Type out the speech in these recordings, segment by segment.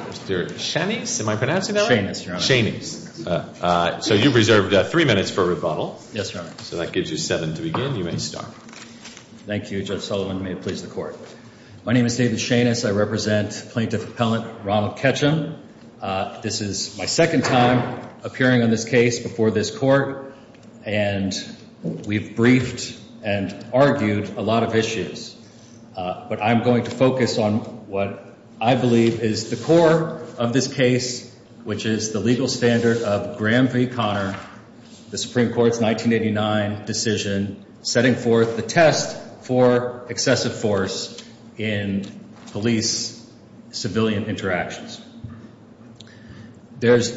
Mr. Shanice, am I pronouncing that right? Shanice, Your Honor. Shanice. So you've reserved three minutes for rebuttal. Yes, Your Honor. So that gives you seven to begin. You may start. Thank you. Judge Sullivan, may it please the Court. My name is David Shanice. I represent Plaintiff Appellant Ronald Ketcham. This is my second time appearing on this case before this Court. And we've briefed and argued a lot of issues. But I'm going to focus on what I believe is the core of this case, which is the legal standard of Graham v. Conner, the Supreme Court's 1989 decision, setting forth the test for excessive force in police-civilian interactions. There's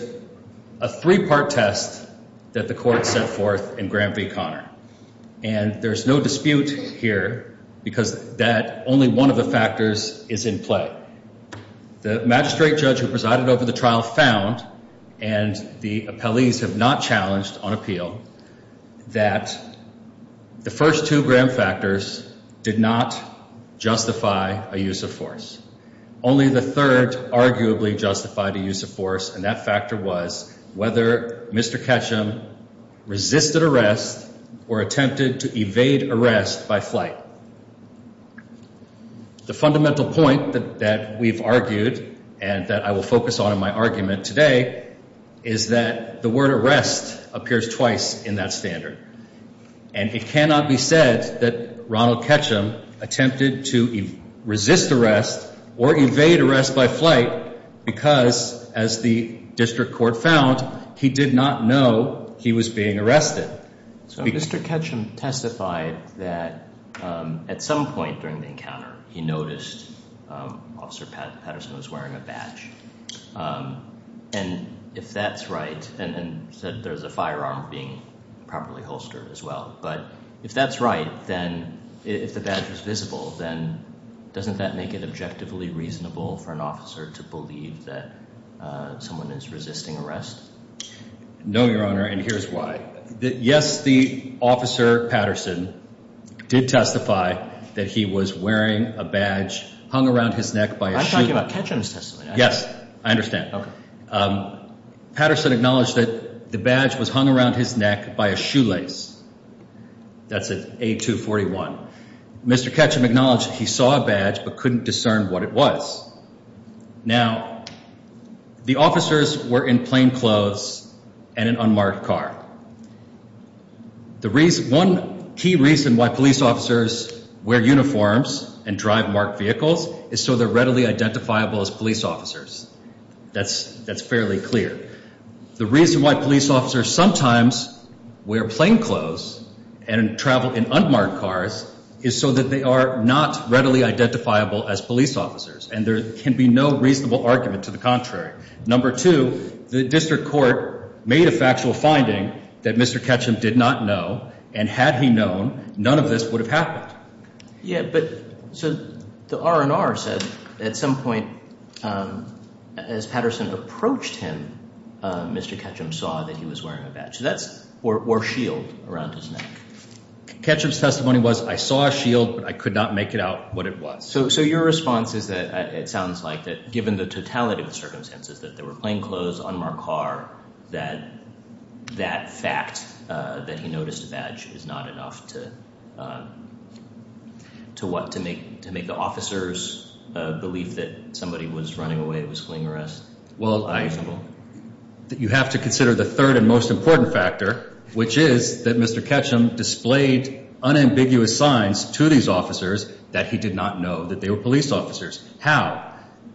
a three-part test that the Court set forth in Graham v. Conner. And there's no dispute here because that only one of the factors is in play. The magistrate judge who presided over the trial found, and the appellees have not challenged on appeal, that the first two Graham factors did not justify a use of force. Only the third arguably justified a use of force, and that factor was whether Mr. Ketcham resisted arrest or attempted to evade arrest by flight. The fundamental point that we've argued and that I will focus on in my argument today is that the word arrest appears twice in that standard. And it cannot be said that Ronald Ketcham attempted to resist arrest or evade arrest by flight because, as the district court found, he did not know he was being arrested. So Mr. Ketcham testified that at some point during the encounter, he noticed Officer Patterson was wearing a badge. And if that's right, and said there's a firearm being properly holstered as well, but if that's right, then if the badge was visible, then doesn't that make it objectively reasonable for an officer to believe that someone is resisting arrest? No, Your Honor, and here's why. Yes, the Officer Patterson did testify that he was wearing a badge hung around his neck by a shoe. I'm talking about Ketcham's testimony. Yes, I understand. Okay. Patterson acknowledged that the badge was hung around his neck by a shoelace. That's at A241. Mr. Ketcham acknowledged he saw a badge but couldn't discern what it was. Now, the officers were in plain clothes and an unmarked car. One key reason why police officers wear uniforms and drive marked vehicles is so they're readily identifiable as police officers. That's fairly clear. The reason why police officers sometimes wear plain clothes and travel in unmarked cars is so that they are not readily identifiable as police officers, and there can be no reasonable argument to the contrary. Number two, the district court made a factual finding that Mr. Ketcham did not know, and had he known, none of this would have happened. Yeah, but so the R&R said at some point as Patterson approached him, Mr. Ketcham saw that he was wearing a badge or shield around his neck. Ketcham's testimony was, I saw a shield, but I could not make it out what it was. So your response is that it sounds like that given the totality of the circumstances, that they were plain clothes, unmarked car, that that fact that he noticed a badge is not enough to what? To make the officers believe that somebody was running away, was fleeing arrest? Well, you have to consider the third and most important factor, which is that Mr. Ketcham displayed unambiguous signs to these officers that he did not know that they were police officers. How?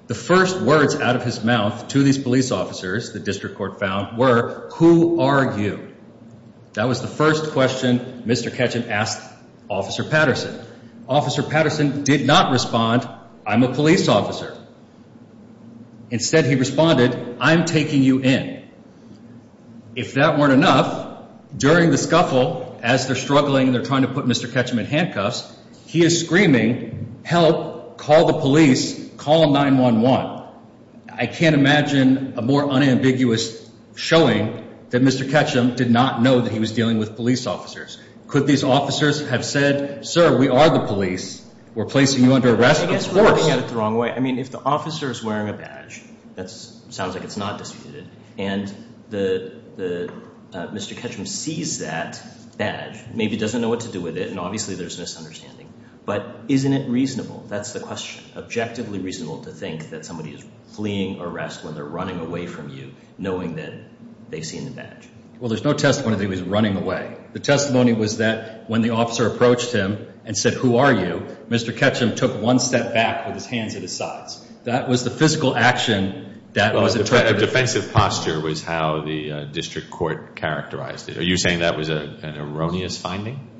The first words out of his mouth to these police officers, the district court found, were, who are you? That was the first question Mr. Ketcham asked Officer Patterson. Officer Patterson did not respond, I'm a police officer. Instead, he responded, I'm taking you in. If that weren't enough, during the scuffle, as they're struggling and they're trying to put Mr. Ketcham in handcuffs, he is screaming, help, call the police, call 911. I can't imagine a more unambiguous showing that Mr. Ketcham did not know that he was dealing with police officers. Could these officers have said, sir, we are the police, we're placing you under arrest, of course. I think that's looking at it the wrong way. I mean, if the officer is wearing a badge, that sounds like it's not disputed, and Mr. Ketcham sees that badge, maybe doesn't know what to do with it, and obviously there's misunderstanding, but isn't it reasonable? That's the question. Objectively reasonable to think that somebody is fleeing arrest when they're running away from you, knowing that they've seen the badge. Well, there's no testimony that he was running away. The testimony was that when the officer approached him and said, who are you, Mr. Ketcham took one step back with his hands at his sides. That was the physical action that was attracted. A defensive posture was how the district court characterized it. Are you saying that was an erroneous finding?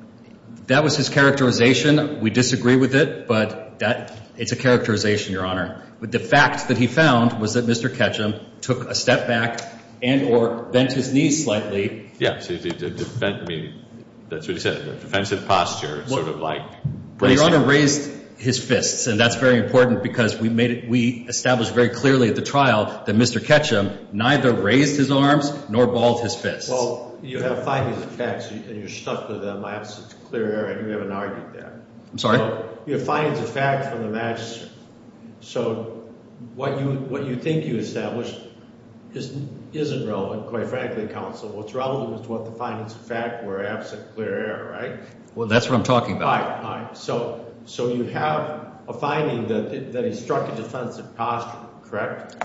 That was his characterization. We disagree with it, but it's a characterization, Your Honor. But the fact that he found was that Mr. Ketcham took a step back and or bent his knees slightly. That's what he said, a defensive posture, sort of like bracing. But Your Honor raised his fists, and that's very important because we established very clearly at the trial that Mr. Ketcham neither raised his arms nor balled his fists. Well, you have findings of facts, and you're stuck with them. I have such a clear error. I think we haven't argued that. I'm sorry? You have findings of facts from the magistrate. So what you think you established isn't relevant, quite frankly, counsel. What's relevant is what the findings of fact were, absent clear error, right? Well, that's what I'm talking about. All right, all right. So you have a finding that he struck a defensive posture, correct?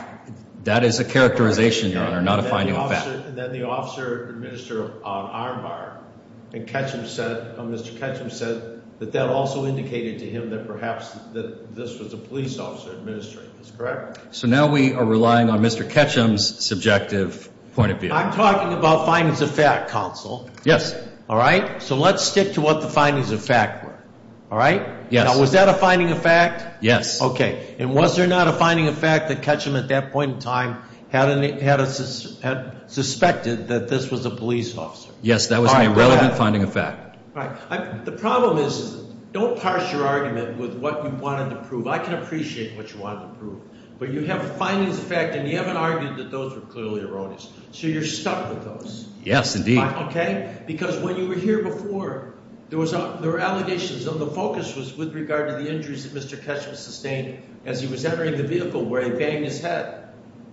That is a characterization, Your Honor, not a finding of facts. Then the officer administered an armbar, and Mr. Ketcham said that that also indicated to him that perhaps that this was a police officer administering this, correct? So now we are relying on Mr. Ketcham's subjective point of view. I'm talking about findings of fact, counsel. Yes. All right? So let's stick to what the findings of fact were. All right? Yes. Now, was that a finding of fact? Yes. Okay. And was there not a finding of fact that Ketcham at that point in time had suspected that this was a police officer? Yes, that was an irrelevant finding of fact. All right. The problem is don't parse your argument with what you wanted to prove. I can appreciate what you wanted to prove, but you have findings of fact, and you haven't argued that those were clearly erroneous. So you're stuck with those. Yes, indeed. Okay? Because when you were here before, there were allegations, and the focus was with regard to the injuries that Mr. Ketcham sustained as he was entering the vehicle where he banged his head.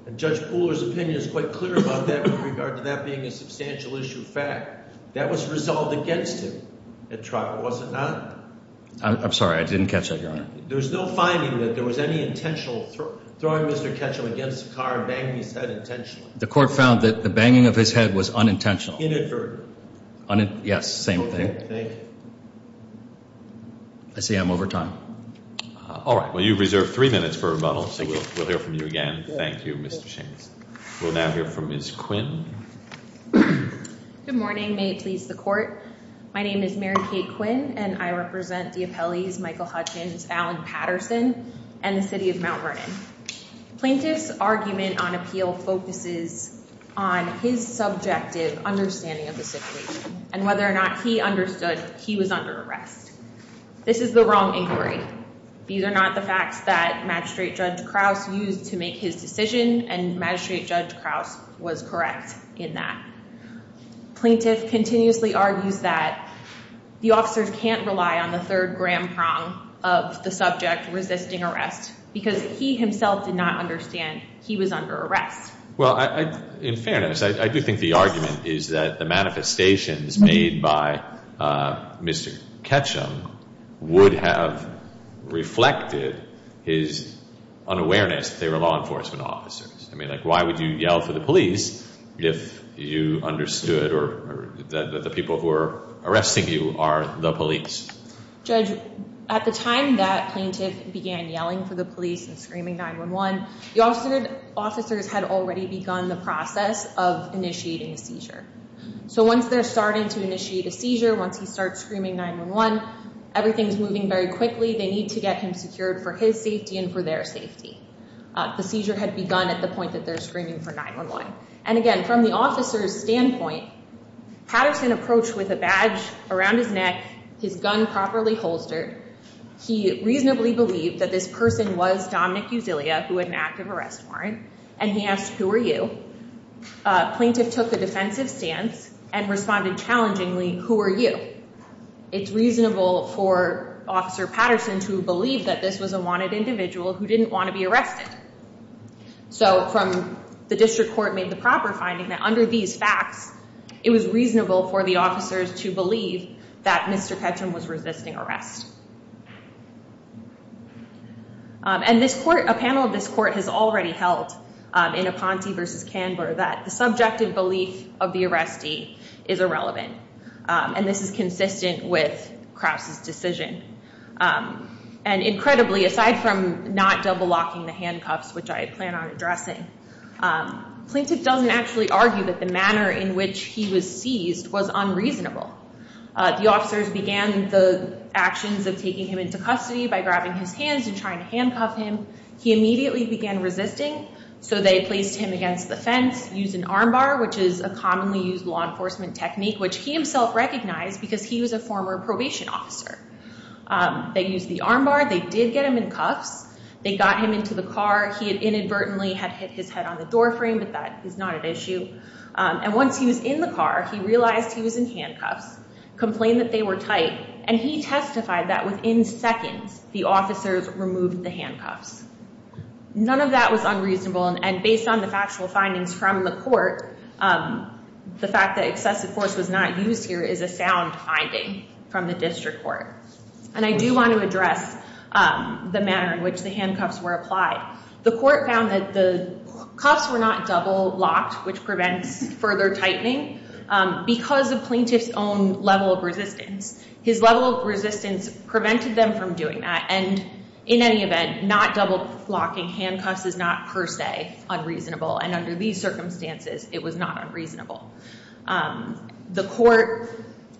And Judge Pooler's opinion is quite clear about that with regard to that being a substantial issue of fact. That was resolved against him at trial, was it not? I'm sorry. I didn't catch that, Your Honor. There was no finding that there was any intentional throwing Mr. Ketcham against the car and banging his head intentionally. The court found that the banging of his head was unintentional. Inadvertent. Yes, same thing. Okay. Thank you. I see I'm over time. All right. Well, you've reserved three minutes for rebuttal, so we'll hear from you again. Thank you, Mr. Shames. We'll now hear from Ms. Quinn. Good morning. May it please the Court. My name is Mary Kate Quinn, and I represent the appellees, Michael Hutchins, Alan Patterson, and the city of Mount Vernon. Plaintiff's argument on appeal focuses on his subjective understanding of the situation and whether or not he understood he was under arrest. This is the wrong inquiry. These are not the facts that Magistrate Judge Krause used to make his decision, and Magistrate Judge Krause was correct in that. Plaintiff continuously argues that the officers can't rely on the third gram prong of the subject resisting arrest because he himself did not understand he was under arrest. Well, in fairness, I do think the argument is that the manifestations made by Mr. Ketchum would have reflected his unawareness that they were law enforcement officers. I mean, like, why would you yell for the police if you understood that the people who are arresting you are the police? Judge, at the time that plaintiff began yelling for the police and screaming 9-1-1, the officers had already begun the process of initiating a seizure. So once they're starting to initiate a seizure, once he starts screaming 9-1-1, everything's moving very quickly. They need to get him secured for his safety and for their safety. The seizure had begun at the point that they're screaming for 9-1-1. And again, from the officer's standpoint, Patterson approached with a badge around his neck, his gun properly holstered. He reasonably believed that this person was Dominic Uzillia, who had an active arrest warrant, and he asked, who are you? Plaintiff took a defensive stance and responded challengingly, who are you? It's reasonable for Officer Patterson to believe that this was a wanted individual who didn't want to be arrested. So from the district court made the proper finding that under these facts, it was reasonable for the officers to believe that Mr. Ketchum was resisting arrest. And a panel of this court has already held in Aponte v. Canberra that the subjective belief of the arrestee is irrelevant, and this is consistent with Krause's decision. And incredibly, aside from not double locking the handcuffs, which I plan on addressing, Plaintiff doesn't actually argue that the manner in which he was seized was unreasonable. The officers began the actions of taking him into custody by grabbing his hands and trying to handcuff him. He immediately began resisting, so they placed him against the fence, used an armbar, which is a commonly used law enforcement technique, which he himself recognized because he was a former probation officer. They used the armbar. They did get him in cuffs. They got him into the car. He inadvertently had hit his head on the doorframe, but that is not an issue. And once he was in the car, he realized he was in handcuffs, complained that they were tight, and he testified that within seconds the officers removed the handcuffs. None of that was unreasonable, and based on the factual findings from the court, the fact that excessive force was not used here is a sound finding from the district court. And I do want to address the manner in which the handcuffs were applied. The court found that the cuffs were not double-locked, which prevents further tightening, because of Plaintiff's own level of resistance. His level of resistance prevented them from doing that, and in any event, not double-locking handcuffs is not per se unreasonable, and under these circumstances it was not unreasonable.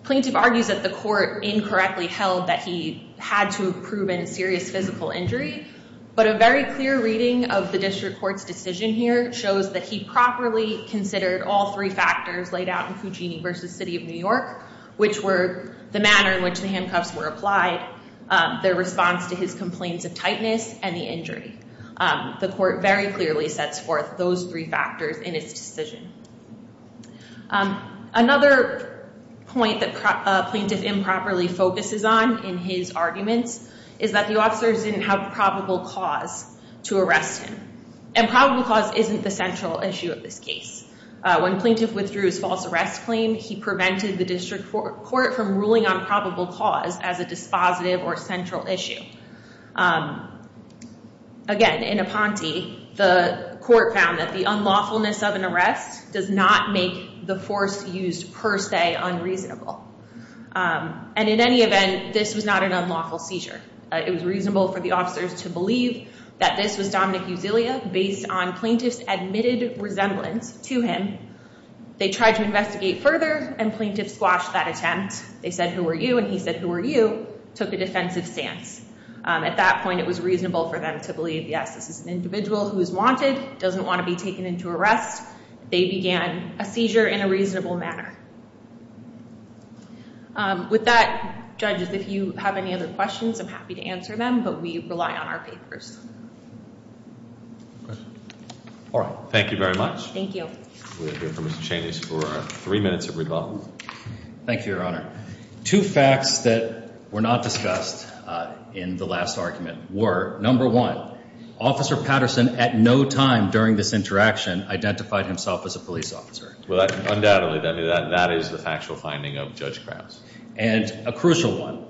Plaintiff argues that the court incorrectly held that he had to have proven serious physical injury, but a very clear reading of the district court's decision here shows that he properly considered all three factors laid out in Fugini v. City of New York, which were the manner in which the handcuffs were applied, their response to his complaints of tightness, and the injury. The court very clearly sets forth those three factors in its decision. Another point that Plaintiff improperly focuses on in his arguments is that the officers didn't have probable cause to arrest him, and probable cause isn't the central issue of this case. When Plaintiff withdrew his false arrest claim, he prevented the district court from ruling on probable cause as a dispositive or central issue. Again, in Aponte, the court found that the unlawfulness of an arrest does not make the force used per se unreasonable, and in any event, this was not an unlawful seizure. It was reasonable for the officers to believe that this was Dominic Uzillia based on Plaintiff's admitted resemblance to him. They tried to investigate further, and Plaintiff squashed that attempt. They said, who are you? And he said, who are you? Took a defensive stance. At that point, it was reasonable for them to believe, yes, this is an individual who is wanted, doesn't want to be taken into arrest. They began a seizure in a reasonable manner. With that, judges, if you have any other questions, I'm happy to answer them, but we rely on our papers. Thank you very much. Thank you. We'll hear from Mr. Cheney for three minutes of rebuttal. Thank you, Your Honor. Two facts that were not discussed in the last argument were, number one, Officer Patterson at no time during this interaction identified himself as a police officer. Well, undoubtedly. That is the factual finding of Judge Krause. And a crucial one.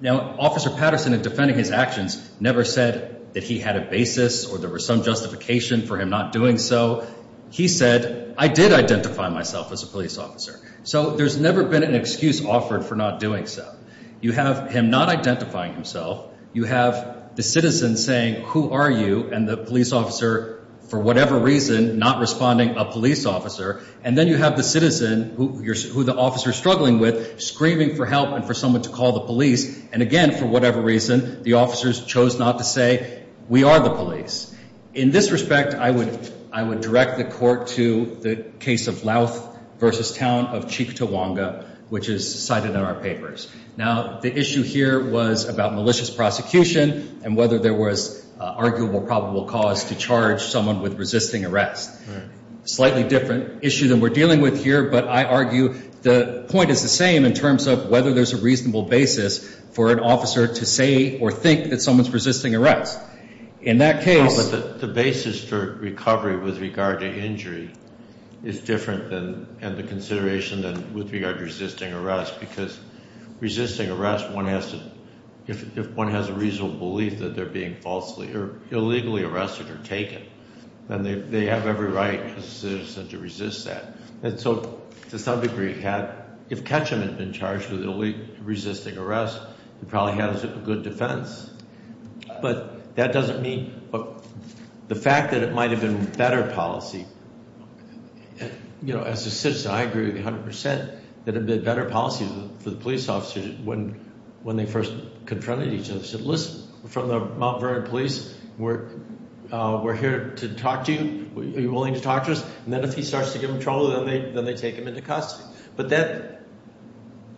Now, Officer Patterson, in defending his actions, never said that he had a basis or there was some justification for him not doing so. He said, I did identify myself as a police officer. So there's never been an excuse offered for not doing so. You have him not identifying himself. You have the citizen saying, who are you? And the police officer, for whatever reason, not responding, a police officer. And then you have the citizen, who the officer is struggling with, screaming for help and for someone to call the police. And again, for whatever reason, the officers chose not to say, we are the police. In this respect, I would direct the court to the case of Louth v. Town of Chief Tawanga, which is cited in our papers. Now, the issue here was about malicious prosecution and whether there was arguable probable cause to charge someone with resisting arrest. Slightly different issue than we're dealing with here, but I argue the point is the same in terms of whether there's a reasonable basis for an officer to say or think that someone's resisting arrest. In that case the basis for recovery with regard to injury is different and the consideration with regard to resisting arrest, because resisting arrest, if one has a reasonable belief that they're being falsely or illegally arrested or taken, then they have every right as a citizen to resist that. And so to some degree, if Ketchum had been charged with resisting arrest, he probably had a good defense. But that doesn't mean the fact that it might have been better policy. As a citizen, I agree 100% that it would have been better policy for the police officers when they first confronted each other and said, listen, we're from the Mount Vernon Police. We're here to talk to you. Are you willing to talk to us? And then if he starts to give them trouble, then they take him into custody. But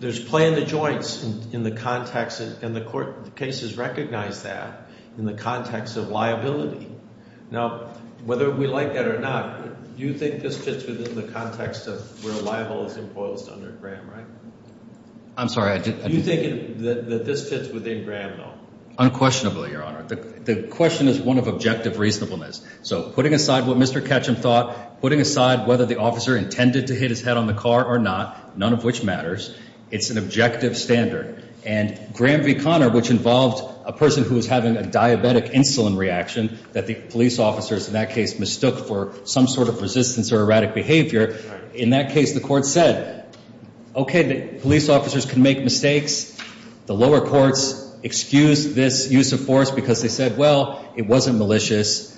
there's play in the joints in the context, and the court cases recognize that, in the context of liability. Now, whether we like that or not, you think this fits within the context of where libel is imposed under Graham, right? I'm sorry. Do you think that this fits within Graham, though? Unquestionably, Your Honor. The question is one of objective reasonableness. So putting aside what Mr. Ketchum thought, putting aside whether the officer intended to hit his head on the car or not, none of which matters, it's an objective standard. And Graham v. Conner, which involved a person who was having a diabetic insulin reaction that the police officers in that case mistook for some sort of resistance or erratic behavior, in that case the court said, okay, police officers can make mistakes. The lower courts excused this use of force because they said, well, it wasn't malicious.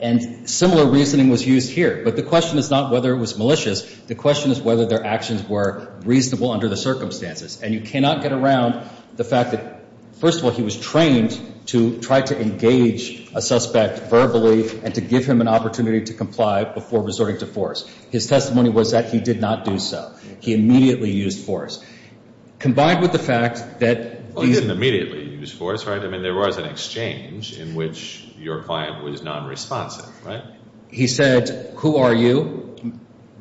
And similar reasoning was used here. But the question is not whether it was malicious. The question is whether their actions were reasonable under the circumstances. And you cannot get around the fact that, first of all, he was trained to try to engage a suspect verbally and to give him an opportunity to comply before resorting to force. His testimony was that he did not do so. He immediately used force. Combined with the fact that these – Well, he didn't immediately use force, right? I mean, there was an exchange in which your client was nonresponsive, right? He said, who are you?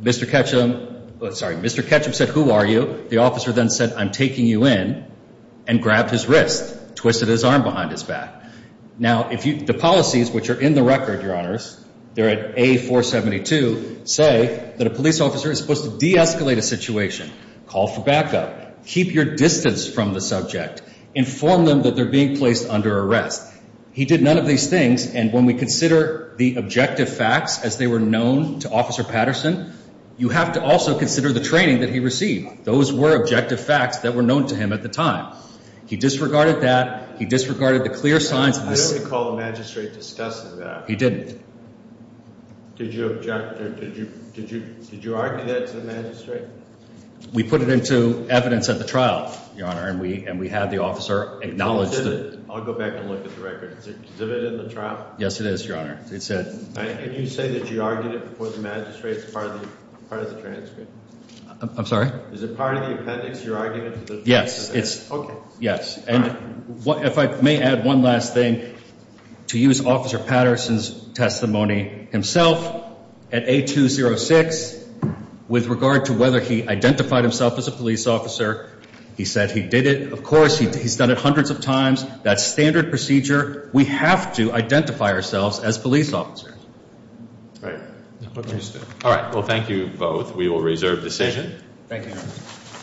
Mr. Ketchum – sorry, Mr. Ketchum said, who are you? The officer then said, I'm taking you in, and grabbed his wrist, twisted his arm behind his back. Now, the policies which are in the record, Your Honors, they're at A-472, say that a police officer is supposed to de-escalate a situation, call for backup, keep your distance from the subject, inform them that they're being placed under arrest. He did none of these things, and when we consider the objective facts as they were known to Officer Patterson, you have to also consider the training that he received. Those were objective facts that were known to him at the time. He disregarded that. He disregarded the clear signs of the – I don't recall the magistrate discussing that. He didn't. Did you object or did you argue that to the magistrate? We put it into evidence at the trial, Your Honor, and we had the officer acknowledge that. I'll go back and look at the record. Is it in the trial? Yes, it is, Your Honor. Can you say that you argued it before the magistrate as part of the transcript? I'm sorry? Is it part of the appendix, your argument? Yes. Okay. Yes, and if I may add one last thing, to use Officer Patterson's testimony himself at A-206 with regard to whether he identified himself as a police officer, he said he did it. Of course, he's done it hundreds of times. That's standard procedure. We have to identify ourselves as police officers. All right. All right. Well, thank you both. We will reserve decision. Thank you.